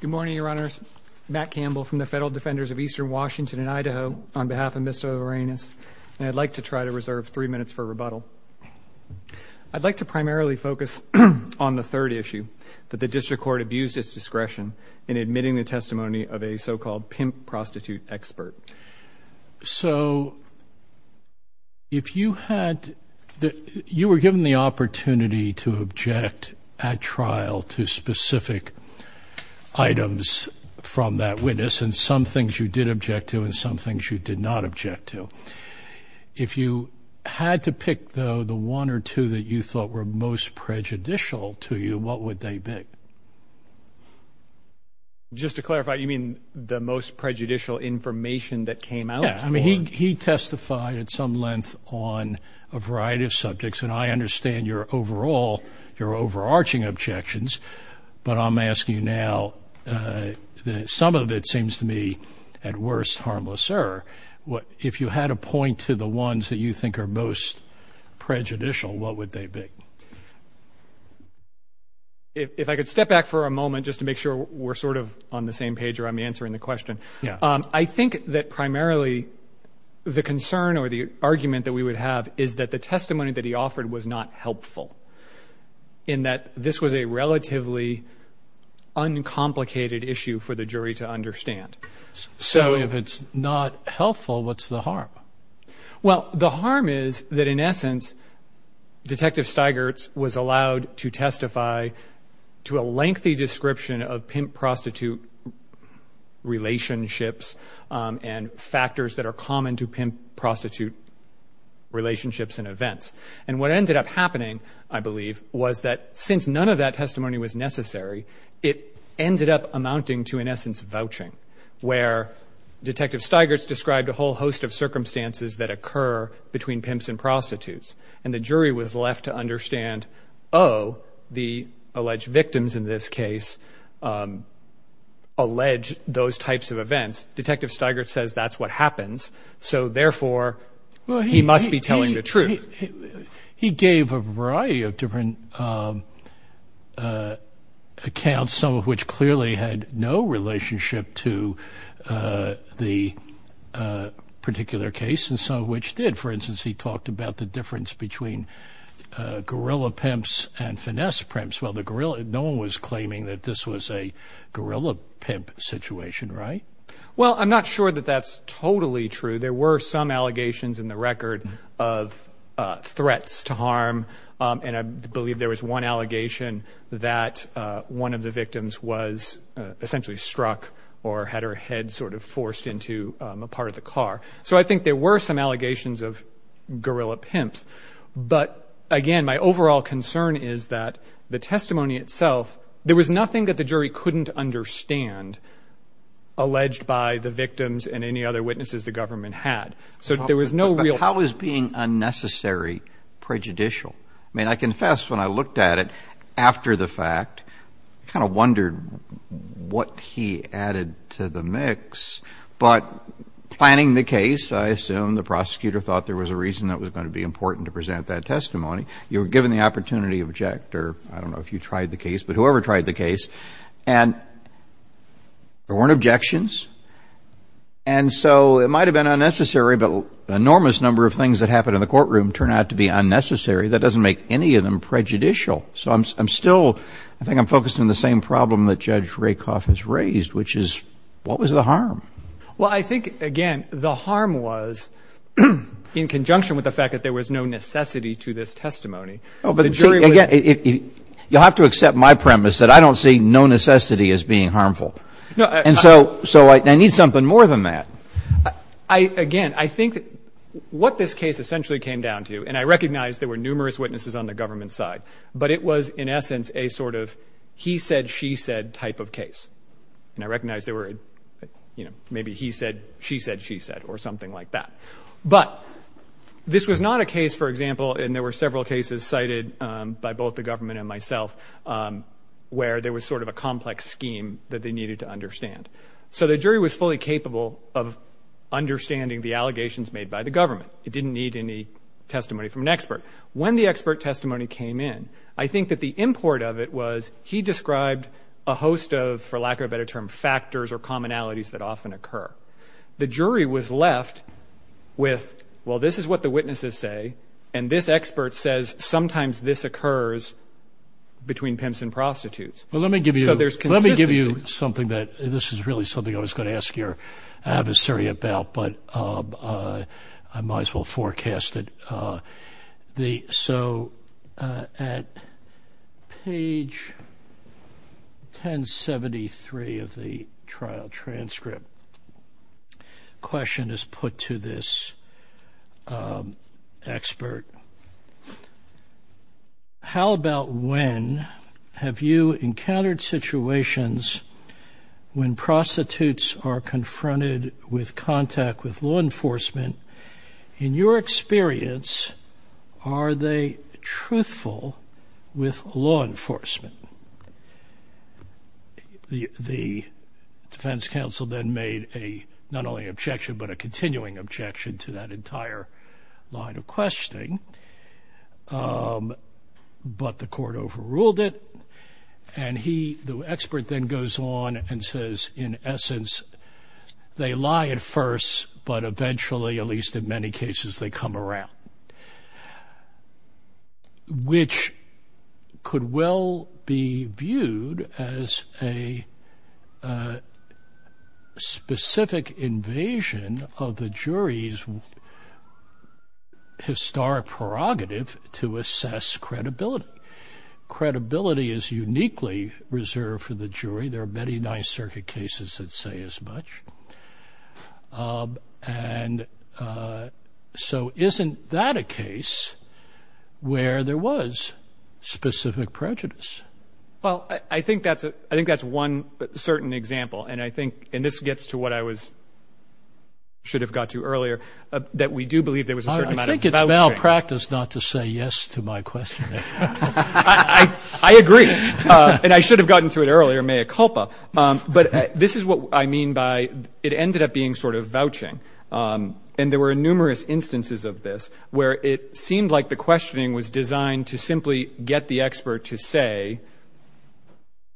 Good morning, Your Honors. Matt Campbell from the Federal Defenders of Eastern Washington and Idaho on behalf of Mr. Llerenas, and I'd like to try to reserve three minutes for rebuttal. I'd like to primarily focus on the third issue, that the District Court abused its discretion in admitting the testimony of a so-called pimp prostitute expert. So, if you had, you were given the opportunity to object at trial to specific items from that witness, and some things you did object to and some things you did not object to. If you had to pick, though, the one or two that you thought were most prejudicial to you, what would they be? Just to clarify, you mean the most prejudicial information that came out? Yeah. I mean, he testified at some length on a variety of subjects, and I understand your overall, your overarching objections, but I'm asking you now, some of it seems to me, at worst, harmless error. If you had to point to the ones that you think are most prejudicial, what would they be? If I could step back for a moment, just to make sure we're sort of on the same page or I'm answering the question. Yeah. I think that primarily, the concern or the argument that we would have is that the testimony that he offered was not helpful, in that this was a relatively uncomplicated issue for the jury to understand. So, if it's not helpful, what's the harm? Well, the harm is that, in essence, Detective Stigerts was allowed to testify to a lengthy description of pimp-prostitute relationships and factors that are common to pimp-prostitute relationships and events. And what ended up happening, I believe, was that since none of that testimony was necessary, it ended up amounting to, in essence, vouching, where Detective Stigerts described a whole host of circumstances that occur between pimps and prostitutes. And the jury was left to understand, oh, the alleged victims in this case allege those types of events. Detective Stigerts says that's what happens, so therefore, he must be telling the truth. He gave a variety of different accounts, some of which clearly had no relationship to the particular case, and some of which did. For instance, he talked about the difference between gorilla pimps and finesse pimps. Well, no one was claiming that this was a gorilla pimp situation, right? Well, I'm not sure that that's totally true. There were some allegations in the record of threats to harm, and I believe there was one allegation that one of the victims was essentially struck or had her head sort of hit a car. So I think there were some allegations of gorilla pimps. But again, my overall concern is that the testimony itself, there was nothing that the jury couldn't understand alleged by the victims and any other witnesses the government had. So there was no real... But how is being unnecessary prejudicial? I mean, I confess, when I looked at it after the fact, I kind of wondered what he added to the mix. But planning the case, I assume the prosecutor thought there was a reason that was going to be important to present that testimony. You were given the opportunity to object or I don't know if you tried the case, but whoever tried the case, and there weren't objections. And so it might have been unnecessary, but an enormous number of things that happened in the courtroom turned out to be unnecessary. That doesn't make any of them prejudicial. So I'm still... One problem that Judge Rakoff has raised, which is, what was the harm? Well, I think, again, the harm was in conjunction with the fact that there was no necessity to this testimony. Oh, but again, you'll have to accept my premise that I don't see no necessity as being harmful. And so I need something more than that. Again, I think what this case essentially came down to, and I recognize there were numerous witnesses on the government side, but it was, in essence, a sort of he said, she said type of case. And I recognize there were, you know, maybe he said, she said, she said, or something like that. But this was not a case, for example, and there were several cases cited by both the government and myself, where there was sort of a complex scheme that they needed to understand. So the jury was fully capable of understanding the allegations made by the government. It didn't need any testimony from an expert. When the expert testimony came in, I think that the import of it was, he described a host of, for lack of a better term, factors or commonalities that often occur. The jury was left with, well, this is what the witnesses say, and this expert says sometimes this occurs between pimps and prostitutes. So there's consistency. Well, let me give you something that, this is really something I was going to ask your adversary about, but I might as well forecast it. So at page 1073 of the trial transcript, a question is put to this expert. How about when have you encountered situations when prostitutes are confronted with contact with law enforcement? In your experience, are they truthful with law enforcement? The defense counsel then made a, not only objection, but a continuing objection to that objection, but the court overruled it, and he, the expert then goes on and says, in essence, they lie at first, but eventually, at least in many cases, they come around, which could will be viewed as a specific invasion of the jury's historic prerogative to assess credibility. Credibility is uniquely reserved for the jury. There are many Ninth Circuit cases that say as much, and so isn't that a case where there was specific prejudice? Well, I think that's one certain example, and I think, and this gets to what I was, should have got to earlier, that we do believe there was a certain amount of vouching. I think it's malpractice not to say yes to my question. I agree, and I should have gotten to it earlier, mea culpa. But this is what I mean by, it ended up being sort of vouching, and there were numerous instances of this where it seemed like the questioning was designed to simply get the expert to say,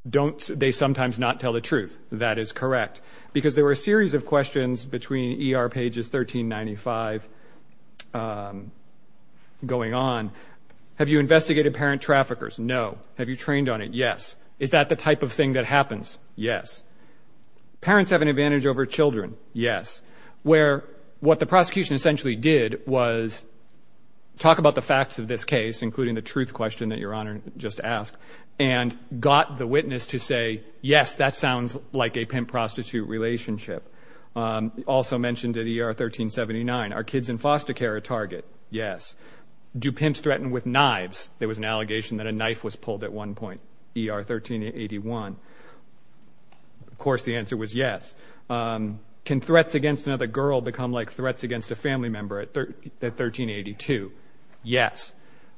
don't, they sometimes not tell the truth. That is correct, because there were a series of questions between ER pages 1395 going on. Have you investigated parent traffickers? No. Have you trained on it? Yes. Is that the type of thing that happens? Yes. Parents have an advantage over children? Yes. Where, what the prosecution essentially did was talk about the facts of this case, including the truth question that Your Honor just asked, and got the witness to say, yes, that sounds like a pimp-prostitute relationship. Also mentioned at ER 1379, are kids in foster care a target? Yes. Do pimps threaten with knives? There was an allegation that a knife was pulled at one point, ER 1381. Of course, the answer was yes. Can threats against another girl become like threats against a family member at 1382? Yes.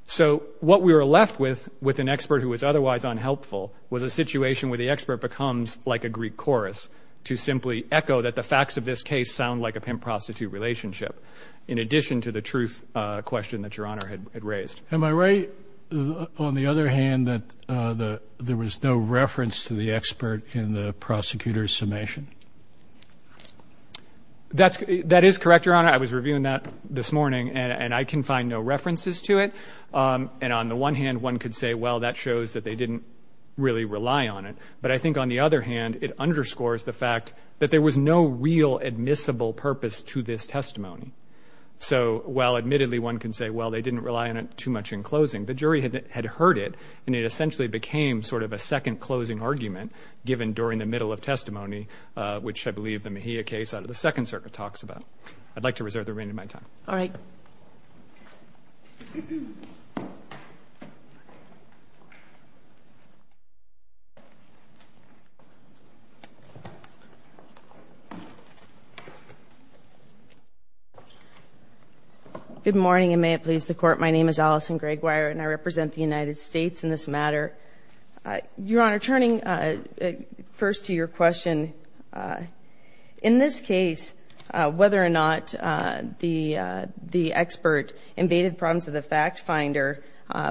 So, what we were left with, with an expert who was otherwise unhelpful, was a situation where the expert becomes like a Greek chorus to simply echo that the facts of this case sound like a pimp-prostitute relationship, in addition to the truth question that Your Honor had raised. Am I right, on the other hand, that there was no reference to the expert in the prosecutor's testimony? That is correct, Your Honor. I was reviewing that this morning, and I can find no references to it. And on the one hand, one could say, well, that shows that they didn't really rely on it. But I think, on the other hand, it underscores the fact that there was no real admissible purpose to this testimony. So, while admittedly one could say, well, they didn't rely on it too much in closing, the jury had heard it, and it essentially became sort of a second closing argument given during the middle of testimony, which I believe the Mejia case out of the Second Circuit talks about. I'd like to reserve the remainder of my time. All right. Good morning, and may it please the Court. My name is Allison Greggwire, and I represent the United States in this matter. Your Honor, turning first to your question, in this case, whether or not the expert invaded the problems of the fact finder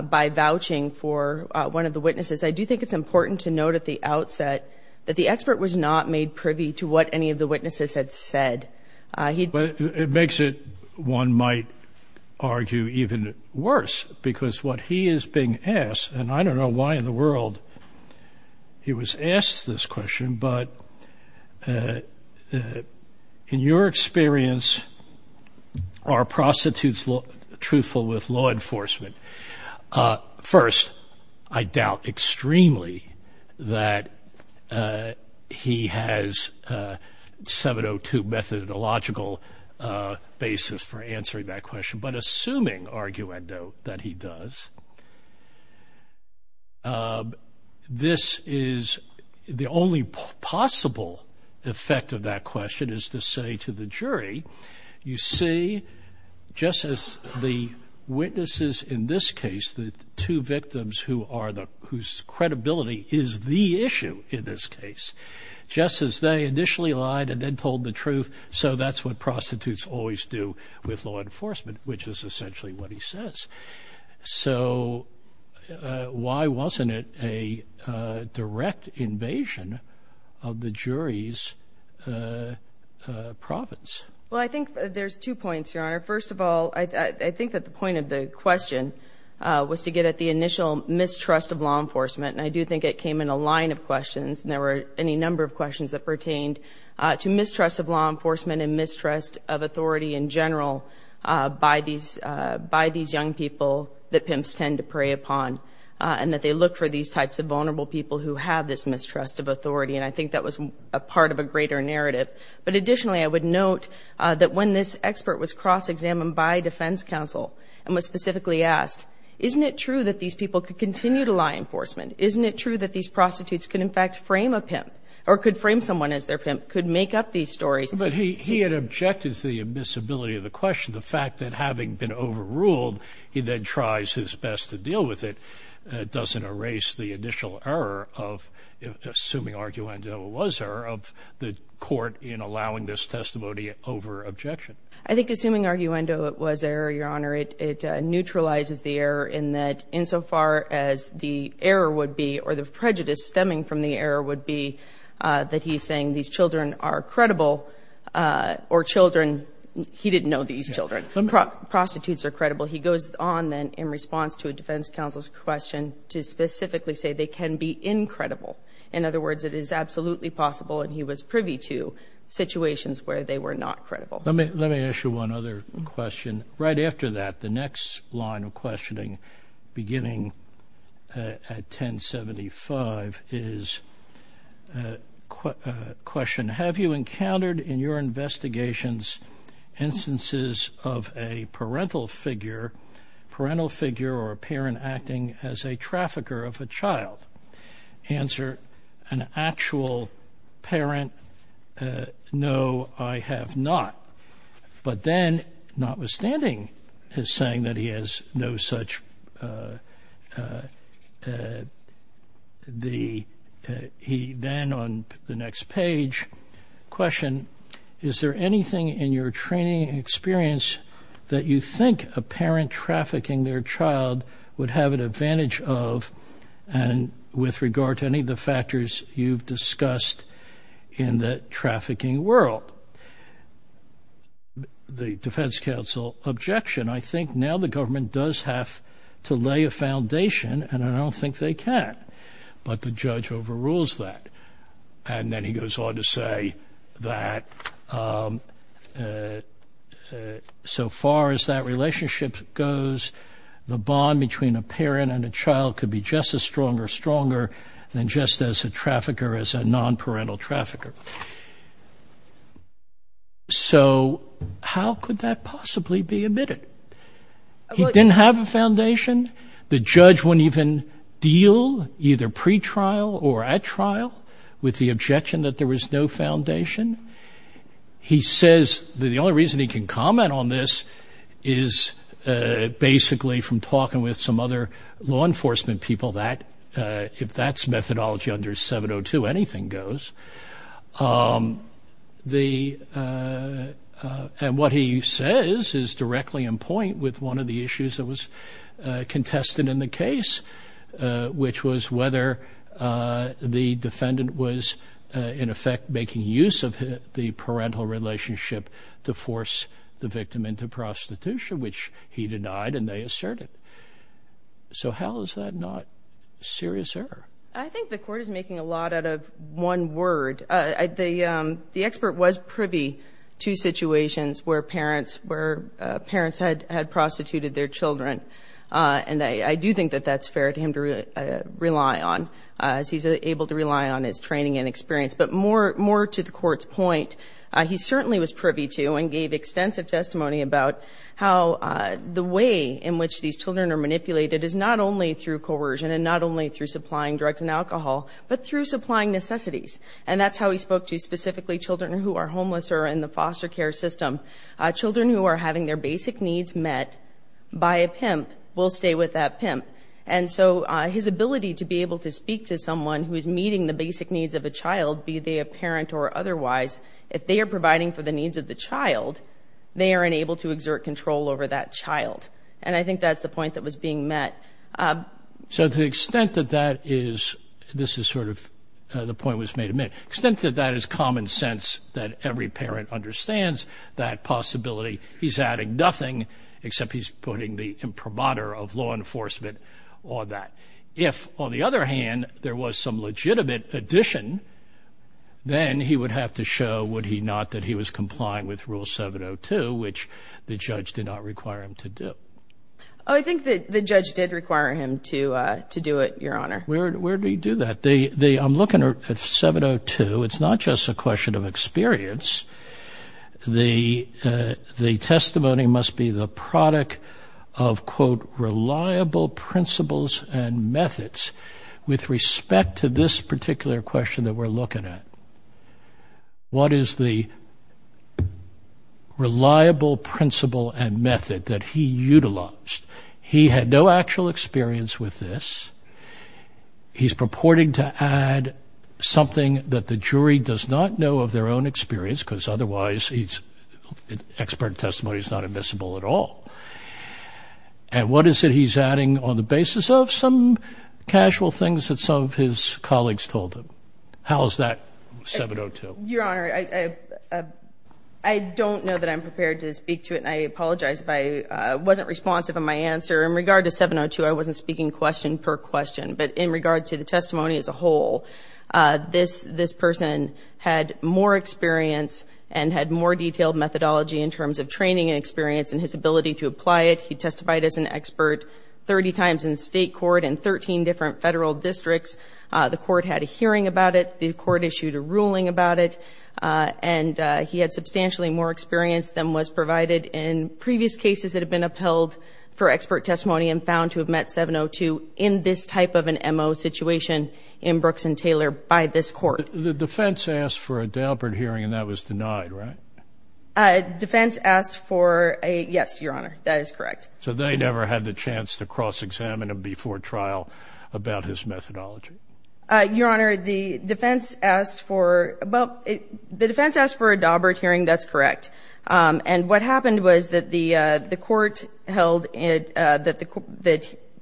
by vouching for one of the witnesses, I do think it's important to note at the outset that the expert was not made privy to what any of the witnesses had said. It makes it, one might argue, even worse, because what he is being asked, and I don't know why in the world he was asked this question, but in your experience, are prostitutes truthful with law enforcement? First, I doubt extremely that he has a 702 methodological basis for answering that question, but assuming, arguendo, that he does, this is the only possible effect of that question is to say to the jury, you see, just as the witnesses in this case, the two victims whose credibility is the issue in this case, just as they initially lied and then told the truth, so that's what prostitutes always do with law enforcement, which is essentially what he says. So why wasn't it a direct invasion of the jury's province? Well I think there's two points, Your Honor. First of all, I think that the point of the question was to get at the initial mistrust of law enforcement, and I do think it came in a line of questions, and there were any mistrust of authority in general by these young people that pimps tend to prey upon, and that they look for these types of vulnerable people who have this mistrust of authority, and I think that was a part of a greater narrative, but additionally, I would note that when this expert was cross-examined by defense counsel and was specifically asked, isn't it true that these people could continue to lie in enforcement? Isn't it true that these prostitutes could in fact frame a pimp, or could frame someone as their pimp, could make up these stories? But he had objected to the admissibility of the question. The fact that having been overruled, he then tries his best to deal with it, doesn't erase the initial error of, assuming arguendo it was error, of the court in allowing this testimony over objection. I think assuming arguendo it was error, Your Honor, it neutralizes the error in that insofar as the error would be, or the prejudice stemming from the error would be, that he's saying these children are credible, or children, he didn't know these children, prostitutes are credible. He goes on then in response to a defense counsel's question to specifically say they can be incredible. In other words, it is absolutely possible, and he was privy to, situations where they were not credible. Let me ask you one other question. And right after that, the next line of questioning, beginning at 1075, is a question, have you encountered in your investigations instances of a parental figure, parental figure or parent acting as a trafficker of a child? Answer, an actual parent, no, I have not. But then, notwithstanding his saying that he has no such, he then on the next page questioned, is there anything in your training experience that you think a parent trafficking their child would have an advantage of, and with regard to any of the factors you've discussed in the trafficking world? The defense counsel objection, I think now the government does have to lay a foundation, and I don't think they can. But the judge overrules that. And then he goes on to say that, so far as that relationship goes, the bond between a child and a parent is the same as a parental trafficker. So how could that possibly be admitted? He didn't have a foundation. The judge wouldn't even deal, either pre-trial or at trial, with the objection that there was no foundation. He says that the only reason he can comment on this is basically from talking with some other law enforcement people that, if that's methodology under 702, anything goes. And what he says is directly in point with one of the issues that was contested in the case, which was whether the defendant was, in effect, making use of the parental relationship to force the victim into prostitution, which he denied and they asserted. So how is that not serious error? I think the court is making a lot out of one word. The expert was privy to situations where parents had prostituted their children. And I do think that that's fair to him to rely on, as he's able to rely on his training and experience. But more to the court's point, he certainly was privy to and gave extensive testimony about how the way in which these children are manipulated is not only through coercion and not only through supplying drugs and alcohol, but through supplying necessities. And that's how he spoke to specifically children who are homeless or in the foster care system. Children who are having their basic needs met by a pimp will stay with that pimp. And so his ability to be able to speak to someone who is meeting the basic needs of a child, be they a parent or otherwise, if they are providing for the needs of the child, they are unable to exert control over that child. And I think that's the point that was being met. So to the extent that that is, this is sort of the point was made a minute, extent that that is common sense, that every parent understands that possibility, he's adding nothing except he's putting the imprimatur of law enforcement on that. If, on the other hand, there was some legitimate addition, then he would have to show, would he not, that he was complying with Rule 702, which the judge did not require him to do. Oh, I think that the judge did require him to do it, Your Honor. Where do you do that? I'm looking at 702. It's not just a question of experience. The testimony must be the product of, quote, reliable principles and methods. With respect to this particular question that we're looking at, what is the reliable principle and method that he utilized? He had no actual experience with this. He's purporting to add something that the jury does not know of their own experience, because otherwise expert testimony is not admissible at all. And what is it he's adding on the basis of some casual things that some of his colleagues told him? How is that 702? Your Honor, I don't know that I'm prepared to speak to it, and I apologize if I wasn't responsive in my answer. In regard to 702, I wasn't speaking question per question, but in regard to the testimony as a whole, this person had more experience and had more detailed methodology in terms of training and experience and his ability to apply it. He testified as an expert 30 times in state court and 13 different federal districts. The court had a hearing about it. The court issued a ruling about it, and he had substantially more experience than was testimony and found to have met 702 in this type of an MO situation in Brooks and Taylor by this court. The defense asked for a Daubert hearing, and that was denied, right? Defense asked for a, yes, Your Honor, that is correct. So they never had the chance to cross-examine him before trial about his methodology? Your Honor, the defense asked for, well, the defense asked for a Daubert hearing, that's correct. And what happened was that the court held that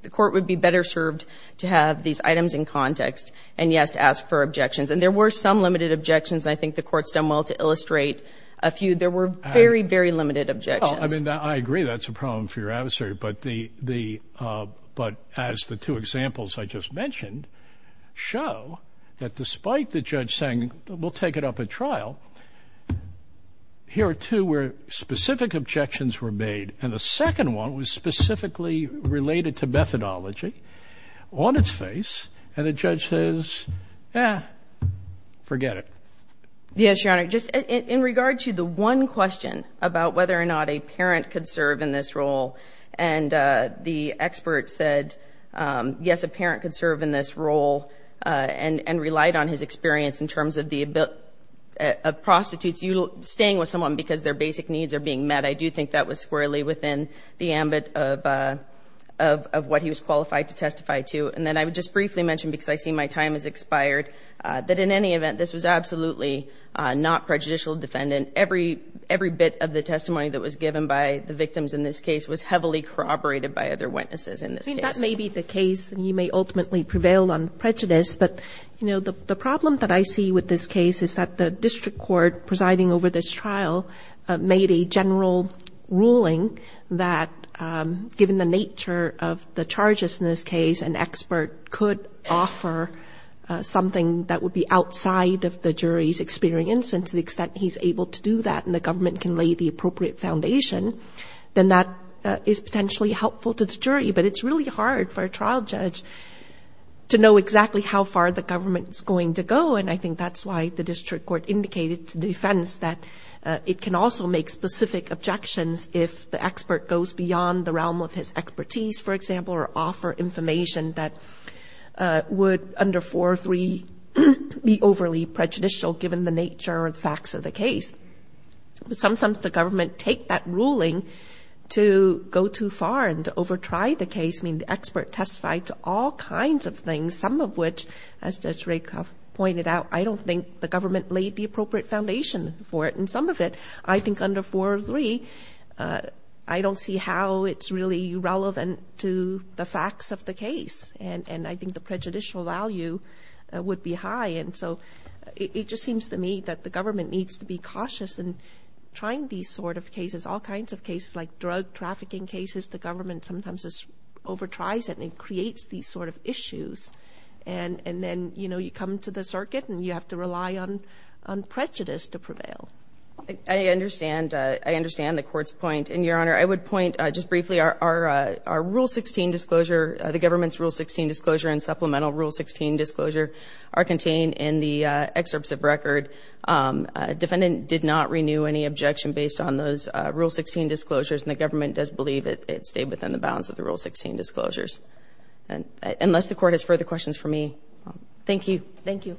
the court would be better served to have these items in context and, yes, to ask for objections. And there were some limited objections, and I think the court's done well to illustrate a few. There were very, very limited objections. Well, I mean, I agree that's a problem for your adversary, but as the two examples I just mentioned show, that despite the judge saying, we'll take it up at trial, here it was two where specific objections were made, and the second one was specifically related to methodology on its face, and the judge says, eh, forget it. Yes, Your Honor, just in regard to the one question about whether or not a parent could serve in this role, and the expert said, yes, a parent could serve in this role and relied on his experience in terms of the ability of prostitutes staying with someone because their basic needs are being met. I do think that was squarely within the ambit of what he was qualified to testify to. And then I would just briefly mention, because I see my time has expired, that in any event, this was absolutely not prejudicial defendant. Every bit of the testimony that was given by the victims in this case was heavily corroborated by other witnesses in this case. That may be the case, and you may ultimately prevail on prejudice, but the problem that I see with this case is that the district court presiding over this trial made a general ruling that, given the nature of the charges in this case, an expert could offer something that would be outside of the jury's experience, and to the extent he's able to do that and the government can lay the appropriate foundation, then that is potentially helpful to the jury. But it's really hard for a trial judge to know exactly how far the government is going to go, and I think that's why the district court indicated to defense that it can also make specific objections if the expert goes beyond the realm of his expertise, for example, or offer information that would, under four or three, be overly prejudicial given the nature and facts of the case. But sometimes the government take that ruling to go too far and to overtry the case, meaning the expert testified to all kinds of things, some of which, as Judge Rakoff pointed out, I don't think the government laid the appropriate foundation for it, and some of it, I think under four or three, I don't see how it's really relevant to the facts of the case, and I think the prejudicial value would be high. And so it just seems to me that the government needs to be cautious in trying these sort of cases, all kinds of cases like drug trafficking cases, the government sometimes just overtries it and creates these sort of issues, and then, you know, you come to the circuit and you have to rely on prejudice to prevail. I understand the court's point, and, Your Honor, I would point just briefly, our Rule 16 disclosure, the government's Rule 16 disclosure and supplemental Rule 16 disclosure are contained in the excerpts of record. Defendant did not renew any objection based on those Rule 16 disclosures, and the government does believe it stayed within the bounds of the Rule 16 disclosures. Unless the court has further questions for me, thank you. Thank you.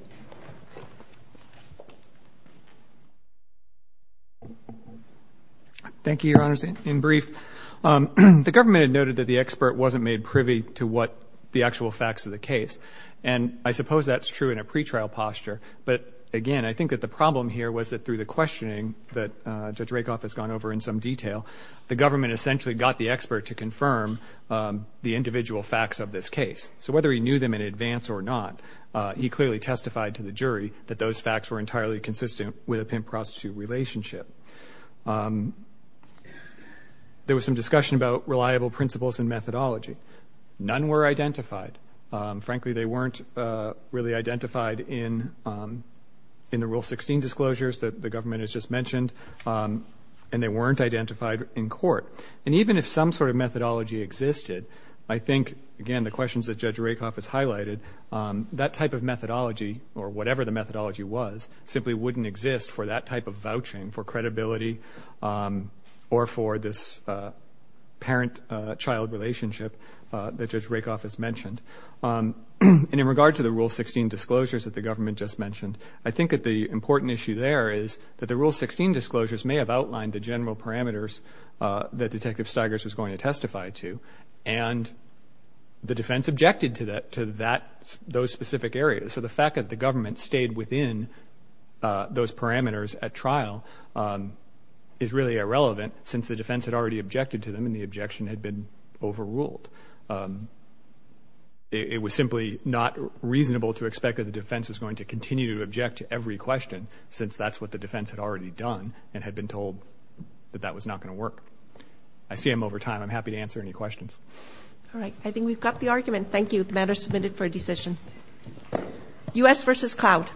Thank you, Your Honors. In brief, the government had noted that the expert wasn't made privy to what the actual facts of the case, and I suppose that's true in a pretrial posture, but, again, I think that the problem here was that through the questioning that Judge Rakoff has gone over in some detail, the government essentially got the expert to confirm the individual facts of this case. So whether he knew them in advance or not, he clearly testified to the jury that those facts were entirely consistent with a pimp-prostitute relationship. There was some discussion about reliable principles and methodology. None were identified. Frankly, they weren't really identified in the Rule 16 disclosures that the government has just mentioned, and they weren't identified in court. And even if some sort of methodology existed, I think, again, the questions that Judge Rakoff has highlighted, that type of methodology, or whatever the methodology was, simply wouldn't exist for that type of vouching, for credibility, or for this parent-child relationship that Judge Rakoff has mentioned. And in regard to the Rule 16 disclosures that the government just mentioned, I think that the important issue there is that the Rule 16 disclosures may have outlined the general parameters that Detective Stigers was going to testify to, and the defense objected to those specific areas. So the fact that the government stayed within those parameters at trial is really irrelevant, since the defense had already objected to them, and the objection had been overruled. It was simply not reasonable to expect that the defense was going to continue to object to every question, since that's what the defense had already done, and had been told that that was not going to work. I see I'm over time. I'm happy to answer any questions. All right. I think we've got the argument. Thank you. The matter is submitted for a decision. U.S. v. Cloud.